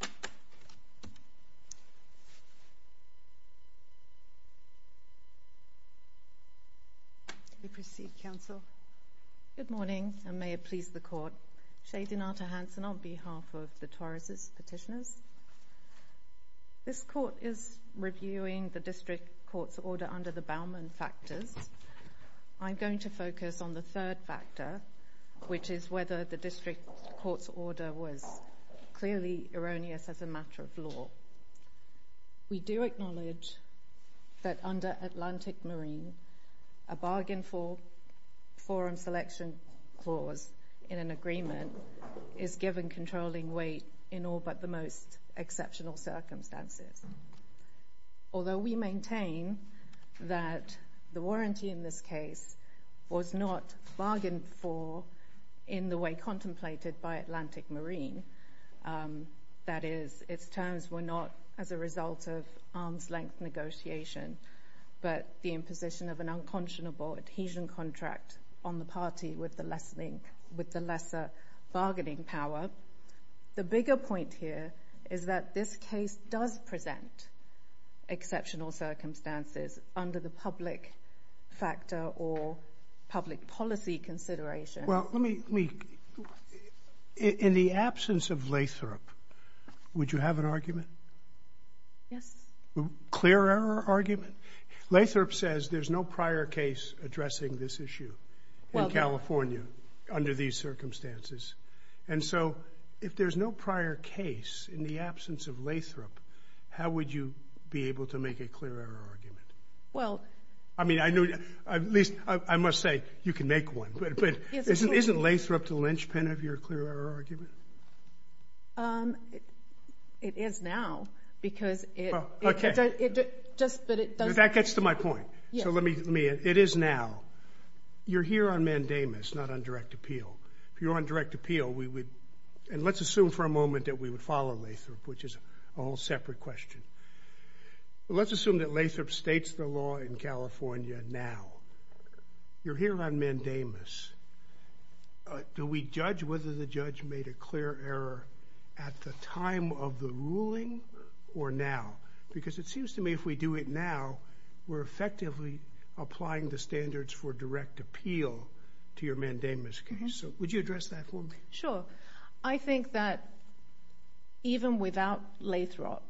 District. We proceed Counsel. Good morning and may it please the court Shei Dinata Hansen on behalf of the Toracesis Petitioners This court is reviewing the District Court's order under the Bauman factors I'm going to focus on the third factor which is whether the District Court's order was clearly erroneous as a matter of law. We do acknowledge that under Atlantic Marine a bargain for forum selection clause in an agreement is given controlling weight in all but the most exceptional circumstances. Although we maintain that the warranty in this case was not bargained for in the way contemplated by Atlantic Marine that is its terms were not as a result of arm's-length negotiation but the imposition of an unconscionable adhesion contract on the party with the lessening with the lesser bargaining power. The bigger point here is that this does present exceptional circumstances under the public factor or public policy consideration. Well let me, in the absence of Lathrop would you have an argument? Yes. Clearer argument? Lathrop says there's no prior case addressing this issue in California under these circumstances and so if there's no prior case in the absence of Lathrop how would you be able to make a clearer argument? I mean I knew at least I must say you can make one but isn't Lathrop the linchpin of your clearer argument? It is now because it. Okay. Just but it doesn't. That gets to my point. Yes. So let me, it is now. You're here on mandamus not on direct appeal. If you're on direct appeal we would and let's assume for a moment that we would follow Lathrop which is a whole separate question. Let's assume that Lathrop states the law in California now. You're here on mandamus. Do we judge whether the judge made a clear error at the time of the ruling or now? Because it seems to me if we do it now we're effectively applying the standards for direct appeal to your mandamus case. Would you address that for me? Sure. I think that even without Lathrop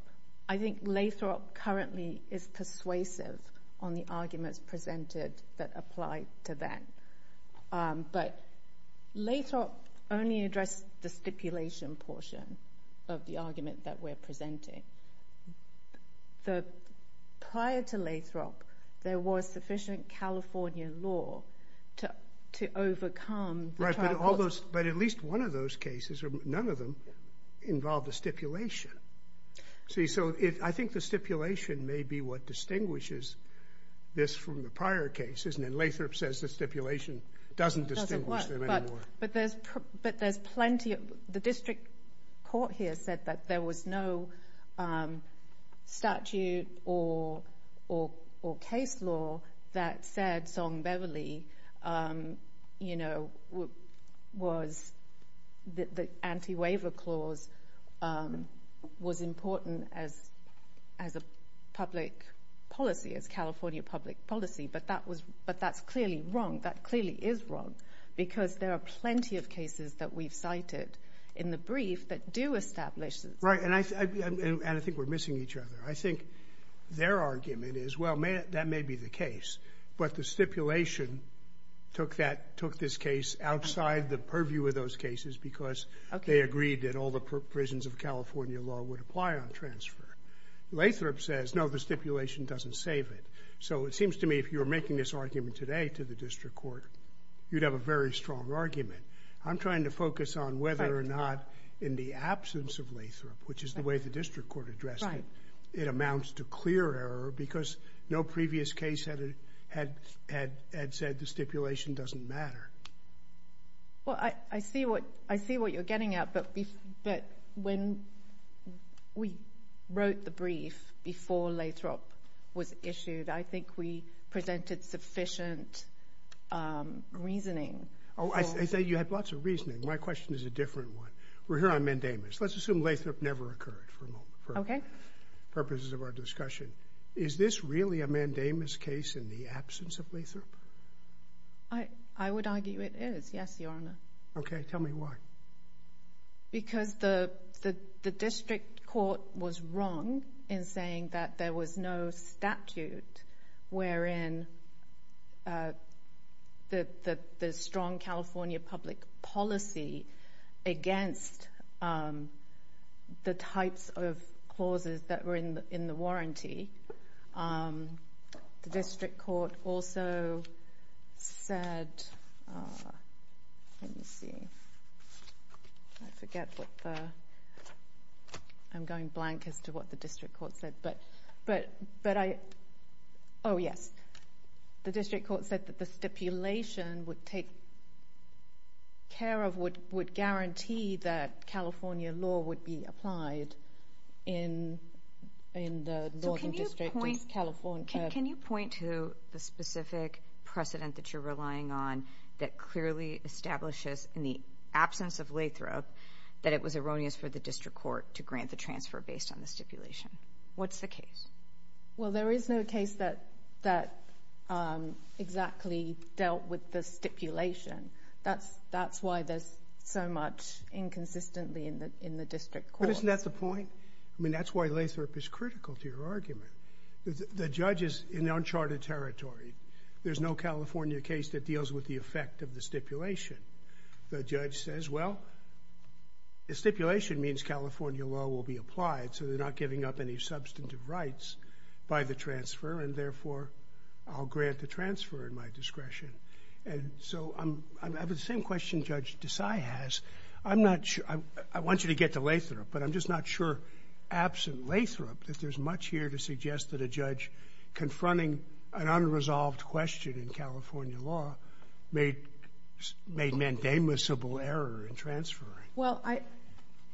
I think Lathrop currently is persuasive on the arguments presented that apply to that. But Lathrop only addressed the stipulation portion of the argument that we're presenting. The prior to Lathrop there was sufficient California law to overcome. Right. But at least one of those cases or none of them involved a stipulation. See so I think the stipulation may be what distinguishes this from the prior cases and then Lathrop says the stipulation doesn't distinguish them anymore. But there's plenty, the district court here said that there was no statute or case law that said Song Beverly, you know, was the anti-waiver clause was important as a public policy, as California public policy. But that's clearly wrong. That clearly is wrong. Because there are plenty of cases that we've cited in the brief that do establish. Right. And I think we're missing each other. I think their argument is, well, that may be the case. But the stipulation took this case outside the purview of those cases because they agreed that all the provisions of California law would apply on transfer. Lathrop says, no, the stipulation doesn't save it. So it seems to me if you were making this argument today to the district court, you'd have a very strong argument. I'm trying to focus on whether or not in the absence of Lathrop, which is the way the district court addressed it, it amounts to clear error because no previous case had said the stipulation doesn't matter. Well, I see what you're getting at. But when we wrote the brief before Lathrop was issued, I think we presented sufficient reasoning. I say you had lots of reasoning. My question is a different one. We're here on mandamus. Let's assume Lathrop never occurred for purposes of our discussion. Is this really a mandamus case in the absence of Lathrop? I would argue it is, yes, Your Honor. Okay. Tell me why. Because the district court was wrong in saying that there was no statute wherein the strong California public policy against the types of clauses that were in the warranty. The district court also said – let me see. I forget what the – I'm going blank as to what the district court said. But I – oh, yes. The district court said that the stipulation would take care of – would guarantee that California law would be applied in the northern district of California. Can you point to the specific precedent that you're relying on that clearly establishes in the absence of Lathrop that it was erroneous for the district court to grant the transfer based on the stipulation? What's the case? Well, there is no case that exactly dealt with the stipulation. That's why there's so much inconsistency in the district court. But isn't that the point? I mean, that's why Lathrop is critical to your argument. The judge is in uncharted territory. There's no California case that deals with the effect of the stipulation. The judge says, well, the stipulation means California law will be applied, so they're not giving up any substantive rights by the transfer and, therefore, I'll grant the transfer in my discretion. And so I have the same question Judge Desai has. I'm not – I want you to get to Lathrop, but I'm just not sure, absent Lathrop, that there's much here to suggest that a judge confronting an unresolved question in California law made mandamusable error in transferring. Well, I –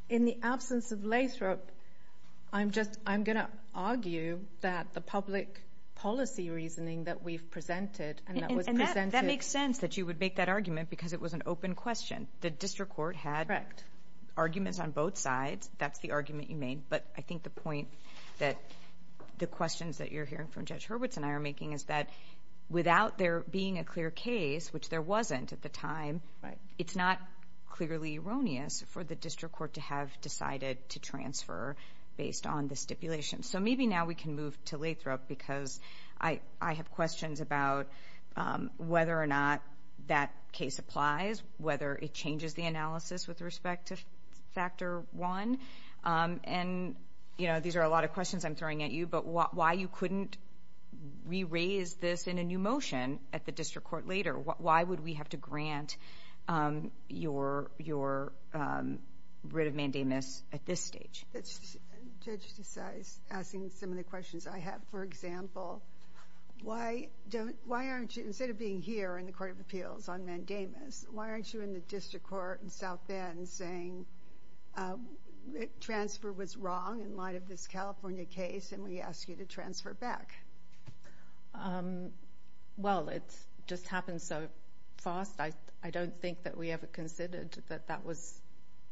in the absence of Lathrop, I'm just – I'm going to argue that the public policy reasoning that we've presented and that was presented – And that makes sense that you would make that argument because it was an open question. The district court had – Correct. – arguments on both sides. That's the argument you made. But I think the point that the questions that you're hearing from Judge Hurwitz and I are making is that without there being a clear case, which there wasn't at the time, it's not clearly erroneous for the district court to have decided to transfer based on the stipulation. So maybe now we can move to Lathrop because I have questions about whether or not that case applies, whether it changes the analysis with respect to Factor 1. And, you know, these are a lot of questions I'm throwing at you, but why you couldn't re-raise this in a new motion at the district court later? Why would we have to grant your writ of mandamus at this stage? Judge Desai is asking some of the questions I have. For example, why aren't you – instead of being here in the Court of Appeals on mandamus, why aren't you in the district court in South Bend saying transfer was wrong in light of this California case and we ask you to transfer back? Well, it just happened so fast. I don't think that we ever considered that that was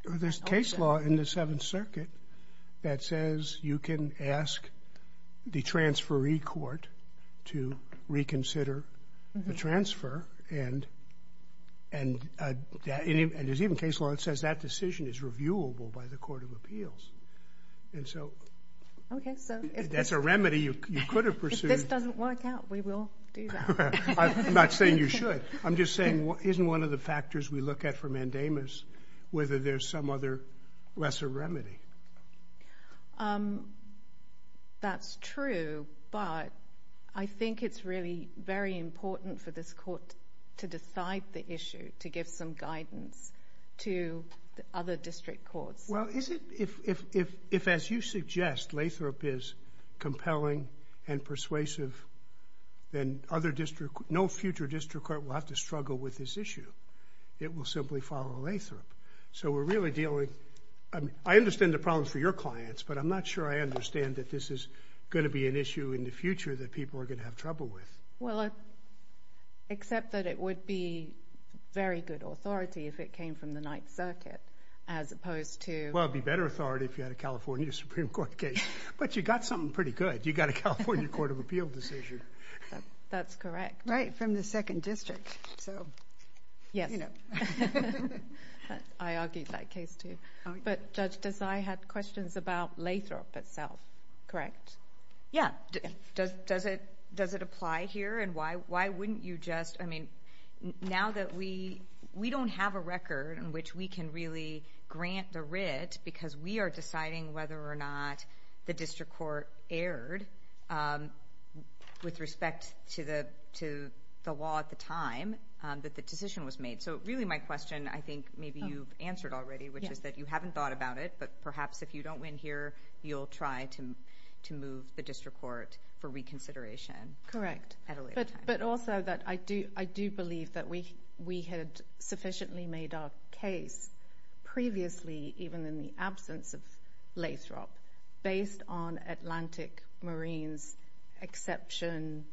an option. There's case law in the Seventh Circuit that says you can ask the transferee court to reconsider the transfer, and there's even case law that says that decision is reviewable by the Court of Appeals. And so that's a remedy you could have pursued. If this doesn't work out, we will do that. I'm not saying you should. I'm just saying isn't one of the factors we look at for mandamus whether there's some other lesser remedy? That's true, but I think it's really very important for this court to decide the issue, to give some guidance to other district courts. Well, if, as you suggest, Lathrop is compelling and persuasive, then no future district court will have to struggle with this issue. It will simply follow Lathrop. So we're really dealing... I understand the problems for your clients, but I'm not sure I understand that this is going to be an issue in the future that people are going to have trouble with. Well, except that it would be very good authority if it came from the Ninth Circuit as opposed to... Well, it would be better authority if you had a California Supreme Court case. But you got something pretty good. You got a California Court of Appeals decision. That's correct. Right, from the second district. So, you know. I argued that case too. But Judge Desai had questions about Lathrop itself, correct? Yeah. Does it apply here? And why wouldn't you just... I mean, now that we don't have a record in which we can really grant the writ because we are deciding whether or not the district court aired with respect to the law at the time that the decision was made. So really my question, I think maybe you've answered already, which is that you haven't thought about it, but perhaps if you don't win here, you'll try to move the district court for reconsideration. Correct. At a later time. But also that I do believe that we had sufficiently made our case previously, even in the absence of Lathrop, based on Atlantic Marine's exception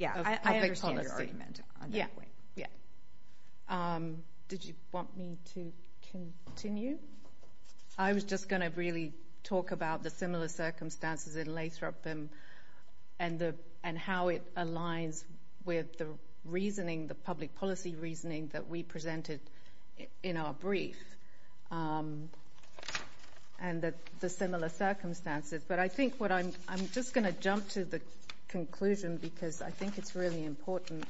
of public policy. Yeah, I understand your argument on that point. Yeah. Did you want me to continue? I was just going to really talk about the similar circumstances in Lathrop and how it aligns with the reasoning, the public policy reasoning that we presented in our brief, and the similar circumstances. But I think what I'm... I'm just going to jump to the conclusion because I think it's really important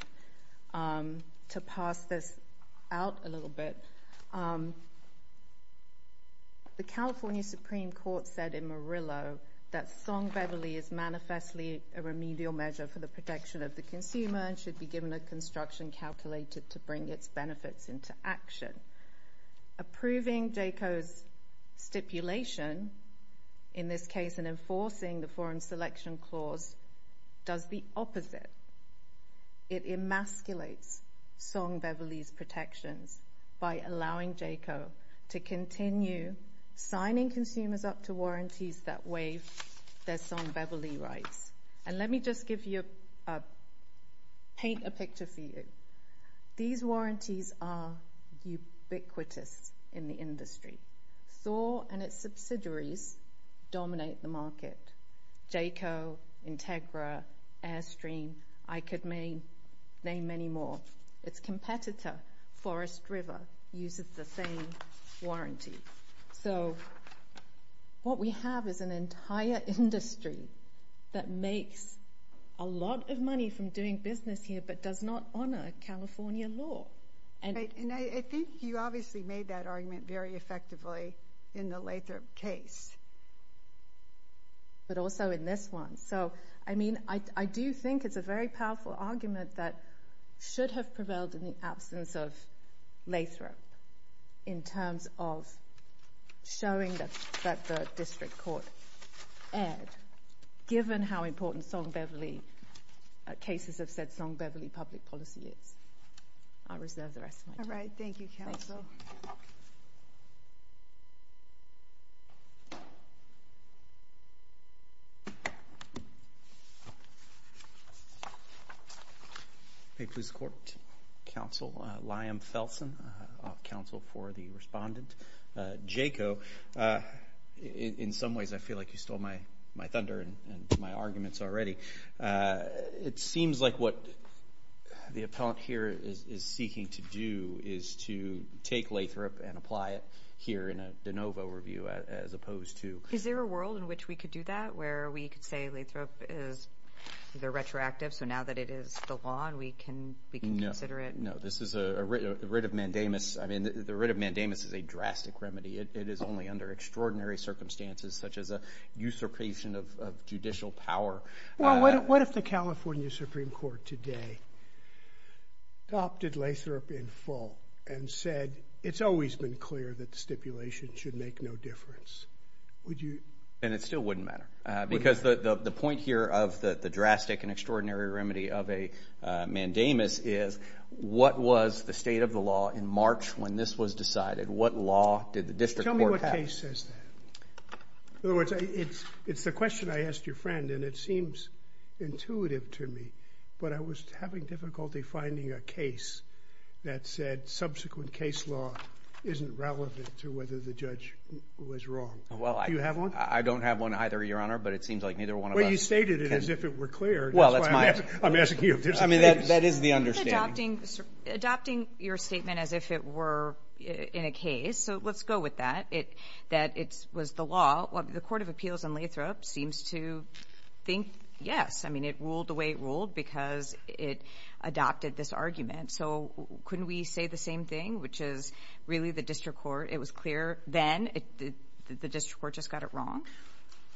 to pass this out a little bit. The California Supreme Court said in Murillo that Song Beverly is manifestly a remedial measure for the protection of the consumer and should be given a construction calculated to bring its benefits into action. Approving Jayco's stipulation, in this case in enforcing the Foreign Selection Clause, does the opposite. It emasculates Song Beverly's protections by allowing Jayco to continue signing consumers up to warranties that waive their Song Beverly rights. And let me just give you a... paint a picture for you. These warranties are ubiquitous in the industry. Thor and its subsidiaries dominate the market. Jayco, Integra, Airstream, I could name many more. Its competitor, Forest River, uses the same warranty. So what we have is an entire industry that makes a lot of money from doing business here but does not honour California law. And I think you obviously made that argument very effectively in the Lathrop case. But also in this one. So, I mean, I do think it's a very powerful argument that should have prevailed in the absence of Lathrop in terms of showing that the district court erred given how important Song Beverly... cases have said Song Beverly public policy is. I'll reserve the rest of my time. All right, thank you, counsel. Thank you, counsel. May it please the court. Counsel Liam Felsen, off-counsel for the respondent. Jayco, in some ways I feel like you stole my thunder and my arguments already. It seems like what the appellant here is seeking to do is to take Lathrop and apply it here in a de novo review as opposed to... Is there a world in which we could do that? Where we could say Lathrop is either retroactive so now that it is the law and we can consider it? No, this is a writ of mandamus. I mean, the writ of mandamus is a drastic remedy. It is only under extraordinary circumstances such as a usurpation of judicial power. Well, what if the California Supreme Court today adopted Lathrop in full and said it's always been clear that the stipulation should make no difference? Would you...? And it still wouldn't matter because the point here of the drastic and extraordinary remedy of a mandamus is what was the state of the law in March when this was decided? What law did the district court have? Tell me what case says that. In other words, it's the question I asked your friend and it seems intuitive to me, but I was having difficulty finding a case that said subsequent case law isn't relevant to whether the judge was wrong. Do you have one? I don't have one either, Your Honor, but it seems like neither one of us... Well, you stated it as if it were clear. Well, that's my... I'm asking you if there's a case... I mean, that is the understanding. Adopting your statement as if it were in a case, so let's go with that, that it was the law. The Court of Appeals on Lathrop seems to think yes. I mean, it ruled the way it ruled because it adopted this argument. So couldn't we say the same thing, which is really the district court, it was clear then, the district court just got it wrong?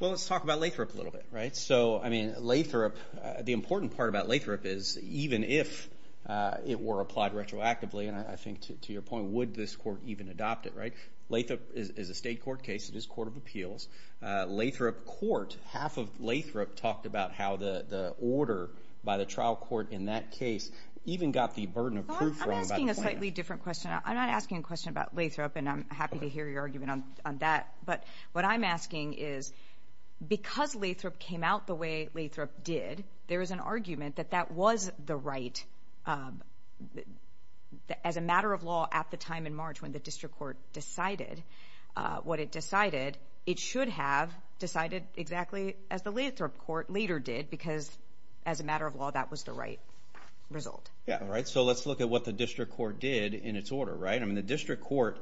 Well, let's talk about Lathrop a little bit, right? So, I mean, Lathrop, the important part about Lathrop is even if it were applied retroactively, and I think to your point, would this court even adopt it, right? Lathrop is a state court case, it is Court of Appeals. Lathrop Court, half of Lathrop, talked about how the order by the trial court in that case even got the burden of proof wrong. I'm asking a slightly different question. I'm not asking a question about Lathrop, and I'm happy to hear your argument on that. But what I'm asking is, because Lathrop came out the way Lathrop did, there is an argument that that was the right... as a matter of law at the time in March when the district court decided what it decided, it should have decided exactly as the Lathrop Court later did, because as a matter of law, that was the right result. Yeah, all right, so let's look at what the district court did in its order, right? I mean, the district court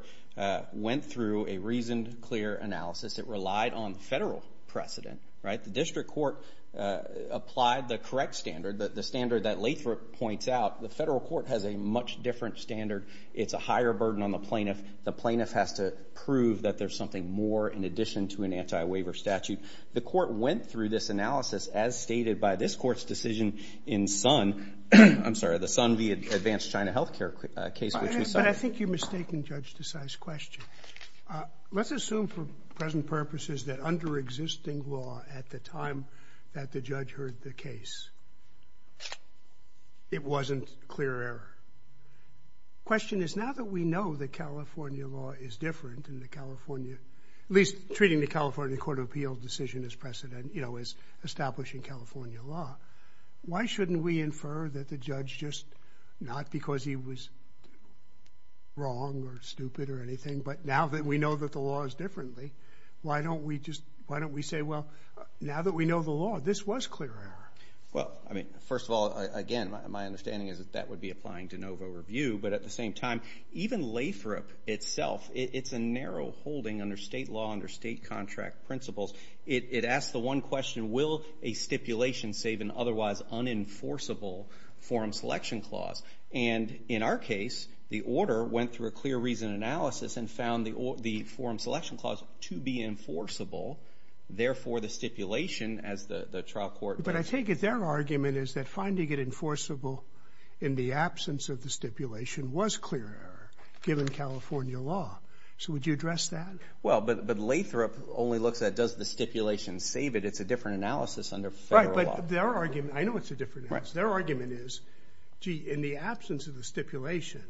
went through a reasoned, clear analysis. It relied on federal precedent, right? The district court applied the correct standard, the standard that Lathrop points out. The federal court has a much different standard. It's a higher burden on the plaintiff. The plaintiff has to prove that there's something more in addition to an anti-waiver statute. The court went through this analysis, as stated by this court's decision in Sun... I'm sorry, the Sun v. Advanced China Health Care case... But I think you're mistaking Judge Desai's question. Let's assume for present purposes that under existing law at the time that the judge heard the case, it wasn't clear error. Question is, now that we know that California law is different in the California... at least treating the California Court of Appeals decision as establishing California law, why shouldn't we infer that the judge just... not because he was wrong or stupid or anything, but now that we know that the law is differently, why don't we say, well, now that we know the law, this was clear error? Well, I mean, first of all, again, my understanding is that that would be an aphorism itself. It's a narrow holding under state law, under state contract principles. It asks the one question, will a stipulation save an otherwise unenforceable forum selection clause? And in our case, the order went through a clear reason analysis and found the forum selection clause to be enforceable. Therefore, the stipulation, as the trial court... But I take it their argument is that finding it enforceable in the absence of the stipulation was clear error, given California law. So would you address that? Well, but Lathrop only looks at, does the stipulation save it? It's a different analysis under federal law. I know it's a different analysis. Their argument is, gee, in the absence of the stipulation,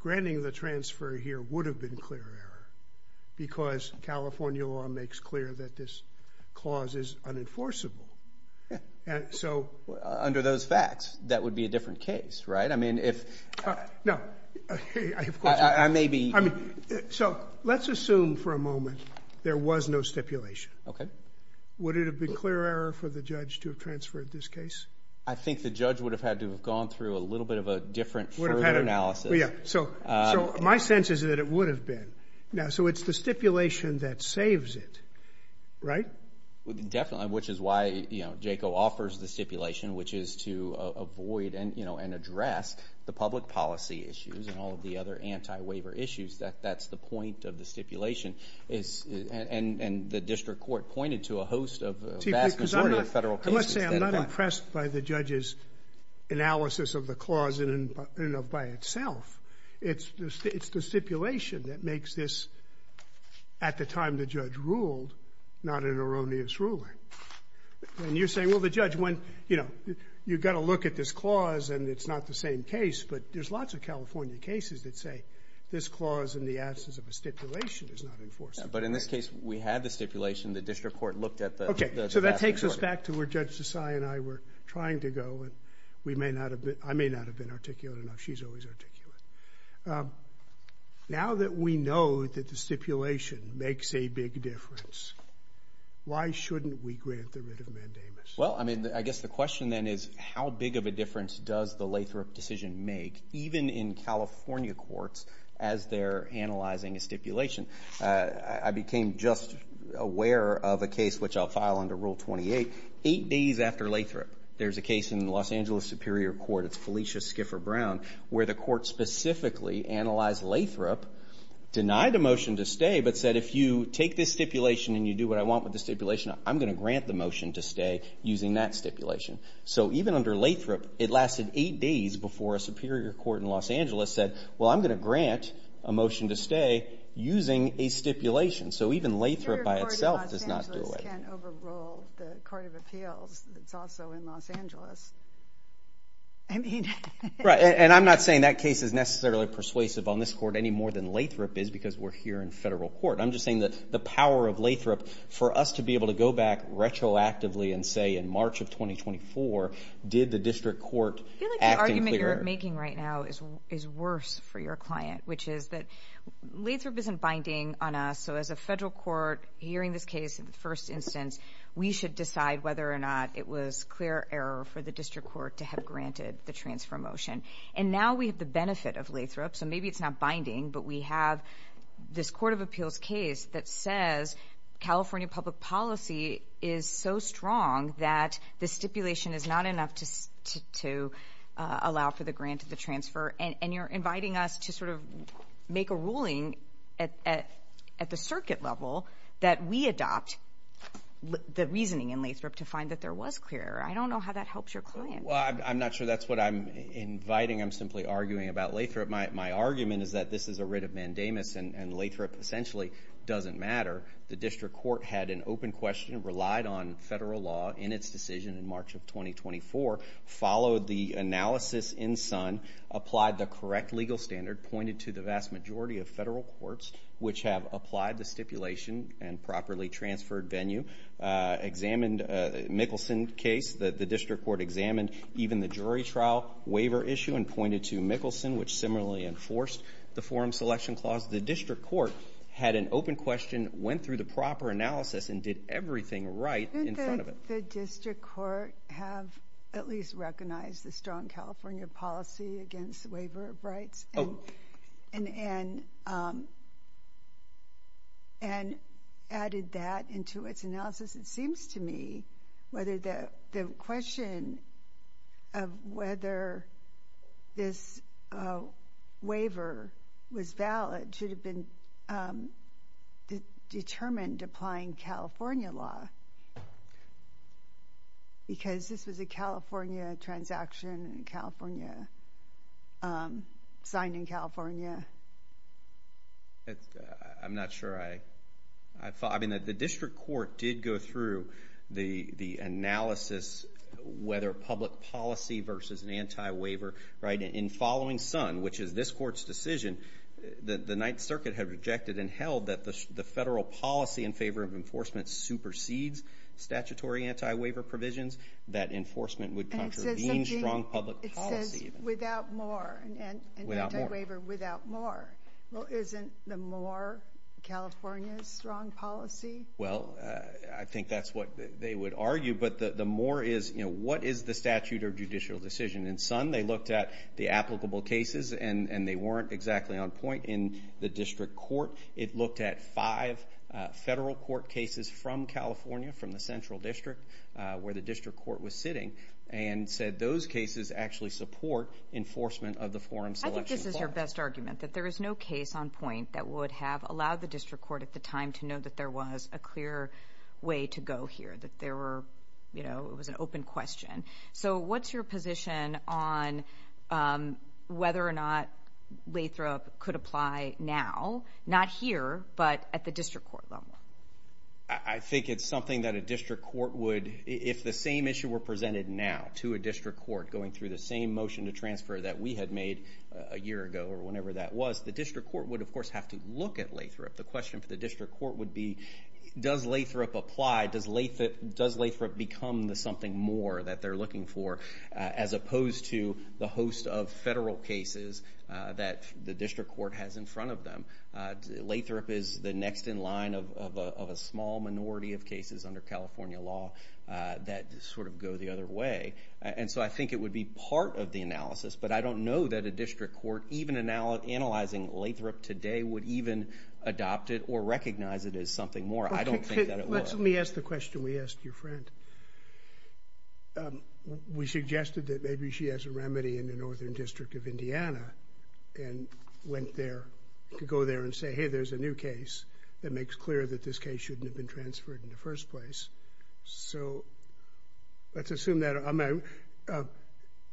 granting the transfer here would have been clear error because California law makes clear that this clause is unenforceable. And so... Under those facts, that would be a different case, right? I mean, if... No, I have a question. I mean, so let's assume for a moment there was no stipulation. Okay. Would it have been clear error for the judge to have transferred this case? I think the judge would have had to have gone through a little bit of a different further analysis. So my sense is that it would have been. Now, so it's the stipulation that saves it, right? Definitely, which is why, you know, JACO offers the stipulation, which is to avoid and, you know, and address the public policy issues and all of the other anti-waiver issues. That's the point of the stipulation. And the district court pointed to a host of a vast majority of federal cases. Let's say I'm not impressed by the judge's analysis of the clause in and of by itself. It's the stipulation that makes this, at the time the judge ruled, not an erroneous ruling. And you're saying, well, the judge went, you know, you've got to look at this clause and it's not the same case, but there's lots of California cases that say this clause in the absence of a stipulation is not enforced. But in this case, we had the stipulation. The district court looked at the vast majority. Okay, so that takes us back to where Judge Desai and I were trying to go and I may not have been articulate enough. She's always articulate. Now that we know that the stipulation makes a big difference, why shouldn't we grant the writ of mandamus? Well, I mean, I guess the question then is how big of a difference does the Lathrop decision make, even in California courts, as they're analyzing a stipulation? I became just aware of a case, which I'll file under Rule 28, eight days after Lathrop. There's a case in the Los Angeles Superior Court, it's Felicia Skiffer Brown, where the court specifically analyzed Lathrop, denied a motion to stay, but said, if you take this stipulation and you do what I want with the stipulation, I'm going to grant the motion to stay using that stipulation. So even under Lathrop, it lasted eight days before a Superior Court in Los Angeles said, well, I'm going to grant a motion to stay using a stipulation. So even Lathrop by itself does not do away with it. Superior Court of Los Angeles can't overrule the Court of Appeals. It's also in Los Angeles. Right, and I'm not saying that case is necessarily persuasive on this court any more than Lathrop is, because we're here in federal court. I'm just saying that the power of Lathrop, for us to be able to go back retroactively and say in March of 2024, did the district court act in clear... I feel like the argument you're making right now is worse for your client, which is that Lathrop isn't binding on us, so as a federal court, hearing this case in the first instance, we should decide whether or not it was clear error for the district court to have granted the transfer motion. And now we have the benefit of Lathrop, so maybe it's not binding, but we have this Court of Appeals case that says California public policy is so strong that the stipulation is not enough to allow for the grant of the transfer, and you're inviting us to sort of make a ruling at the circuit level that we adopt the reasoning in Lathrop to find that there was clear error. I don't know how that helps your client. Well, I'm not sure that's what I'm inviting. I'm simply arguing about Lathrop. My argument is that this is a writ of mandamus, and Lathrop essentially doesn't matter. The district court had an open question, relied on federal law in its decision in March of 2024, followed the analysis in SUN, applied the correct legal standard, pointed to the vast majority of federal courts which have applied the stipulation and properly transferred venue, examined Mickelson case that the district court examined, even the jury trial waiver issue, and pointed to Mickelson which similarly enforced the forum selection clause. The district court had an open question, went through the proper analysis, and did everything right in front of it. Didn't the district court have at least recognized the strong California policy against waiver of rights? Oh. And added that into its analysis, it seems to me whether the question of whether this waiver was valid should have been determined applying California law. Because this was a California transaction in California. Signed in California. I'm not sure I The district court did go through the analysis whether public policy versus an anti-waiver in following SUN, which is this court's decision, the Ninth Circuit had rejected and held that the federal policy in favor of enforcement supersedes statutory anti-waiver provisions that enforcement would contravene strong public policy. It says without more. An anti-waiver without more. Well isn't the more California's strong policy? Well, I think that's what they would argue, but the more is, you know, what is the statute of judicial decision? In SUN, they looked at the applicable cases and they weren't exactly on point in the district court. It looked at five federal court cases from California, from the central district, where the district court was sitting, and said those cases actually support enforcement of the forum selection clause. I think this is your best that there is no case on point that would have allowed the district court at the time to know that there was a clear way to go here, that there were, you know, it was an open question. So what's your position on whether or not Lathrop could apply now, not here, but at the district court level? I think it's something that a district court would, if the same issue were presented now to a district court, going through the same motion to transfer that we had made a year ago or whenever that was, the district court would of course have to look at Lathrop. The question for the district court would be does Lathrop apply? Does Lathrop become the something more that they're looking for as opposed to the host of federal cases that the district court has in front of them? Lathrop is the next in line of a small minority of cases under California law that sort of go the other way. And so I think it would be part of the analysis, but I don't know that a district court, even analyzing Lathrop today, would even adopt it or recognize it as something more. I don't think that it would. Let me ask the question we asked your friend. We suggested that maybe she has a remedy in the Northern District of Indiana and went there to go there and say, hey, there's a new case that makes clear that this case shouldn't have been transferred in the first place. So let's assume that...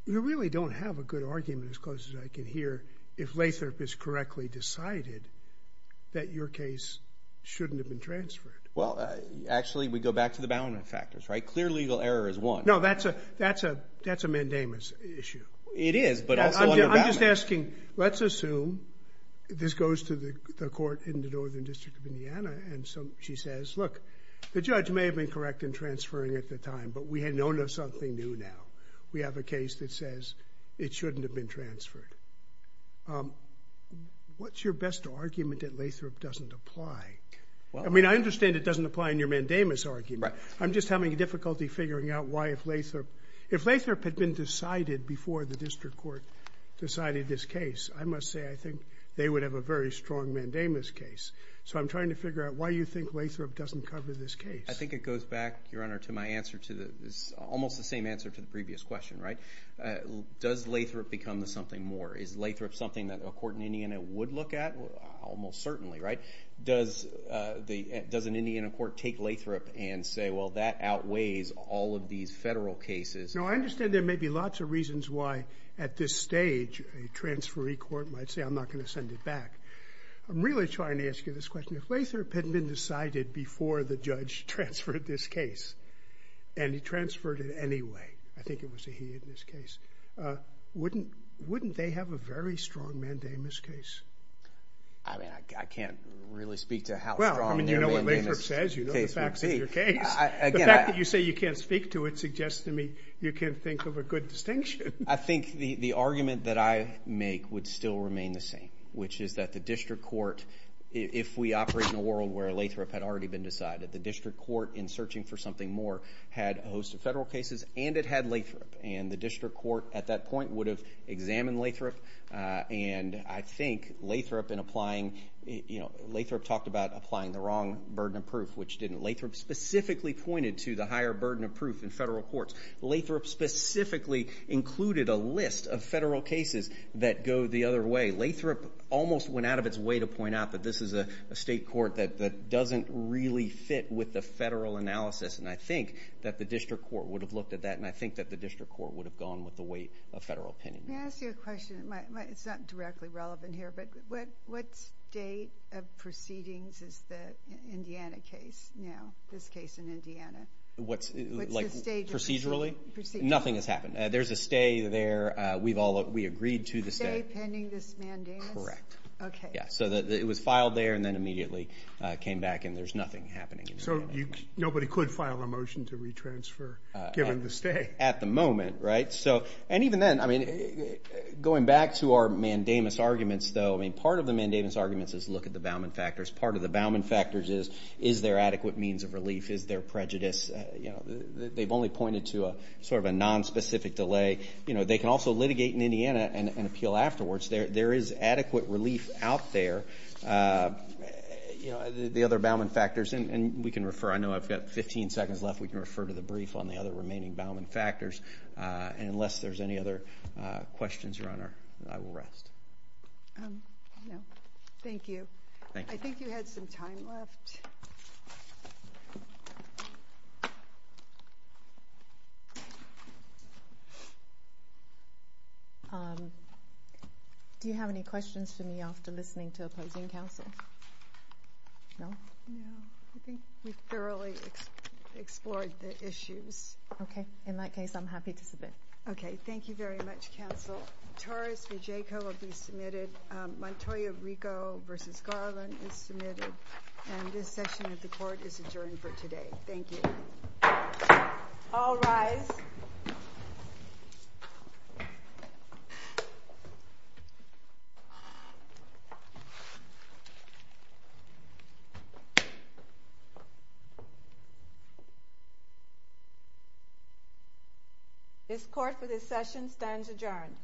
You really don't have a good argument, as close as I can hear, if Lathrop is correctly decided that your case shouldn't have been transferred. Well, actually, we go back to the balance factors, right? Clear legal error is one. No, that's a mandamus issue. It is, but also under balance. I'm just asking, let's assume this goes to the court in the Northern District of Indiana, and she says, look, the judge may have been correct in transferring at the time, but we had known of something new now. We have a case that says it shouldn't have been transferred. What's your best argument that Lathrop doesn't apply? I mean, I understand it doesn't apply in your mandamus argument. I'm just having difficulty figuring out why if Lathrop... If Lathrop had been decided before the district court decided this case, I must say I think they would have a very strong mandamus case. So I'm trying to figure out why you think Lathrop doesn't cover this case. I think it goes back, Your Honor, to my answer to the... Almost the same answer to the previous question, right? Does Lathrop become the something more? Is Lathrop something that a court in Indiana would look at? Almost certainly, right? Does an Indiana court take Lathrop and say, well, that outweighs all of these federal cases? No, I understand there may be lots of reasons why at this stage a transferee court might say, I'm not going to send it back. I'm really trying to ask you this question. If Lathrop had been decided before the judge transferred this case and he transferred it anyway, I think it was a he in this case, wouldn't they have a very strong mandamus case? I mean, I can't really speak to how strong their mandamus case would be. Well, you know what Lathrop says. You know the facts of your case. The fact that you say you can't speak to it suggests to me you can't think of a good distinction. I think the argument that I make would still remain the same, which is that the district court if we operate in a world where Lathrop had already been decided, the district court in searching for something more had a host of federal cases and it had Lathrop. And the district court at that point would have examined Lathrop and I think Lathrop in applying, you know, Lathrop talked about applying the wrong burden of proof which didn't. Lathrop specifically pointed to the higher burden of proof in federal courts. Lathrop specifically included a list of federal cases that go the other way. Lathrop almost went out of its way to point out that this is a state court that doesn't really fit with the federal analysis and I think that the district court would have looked at that and I think that the district court would have gone with the weight of federal opinion. May I ask you a question? It's not directly relevant here, but what state of proceedings is the Indiana case now, this case in Indiana? What's the state? Procedurally? Nothing has happened. There's a stay there. We've all agreed to the stay. Stay pending this mandamus? Correct. Okay. Yeah, so it was filed there and then immediately came back and there's nothing happening. So nobody could file a motion to retransfer given the stay? At the moment, right? So, and even then, I mean going back to our mandamus arguments though, I mean, part of the mandamus arguments is look at the Bauman factors. Part of the Bauman factors is, is there adequate means of relief? Is there prejudice? You know, they've only pointed to a sort of a non-specific delay. You know, they can also litigate in Indiana and appeal afterwards. There is adequate relief out there. You know, the other Bauman factors, and we can refer, I know I've got 15 seconds left, we can refer to the brief on the other remaining Bauman factors. And unless there's any other questions, Your Honor, I will rest. Um, no. Thank you. I think you had some time left. Um, do you have any questions for me after listening to opposing counsel? No? No. I think we thoroughly explored the issues. Okay. In that case, I'm happy to submit. Okay. Thank you very much, counsel. Torres v. Jaco will be submitted. Montoya-Rico v. Garland is submitted. And this session of the court is adjourned for today. Thank you. All rise. This court for this session stands adjourned.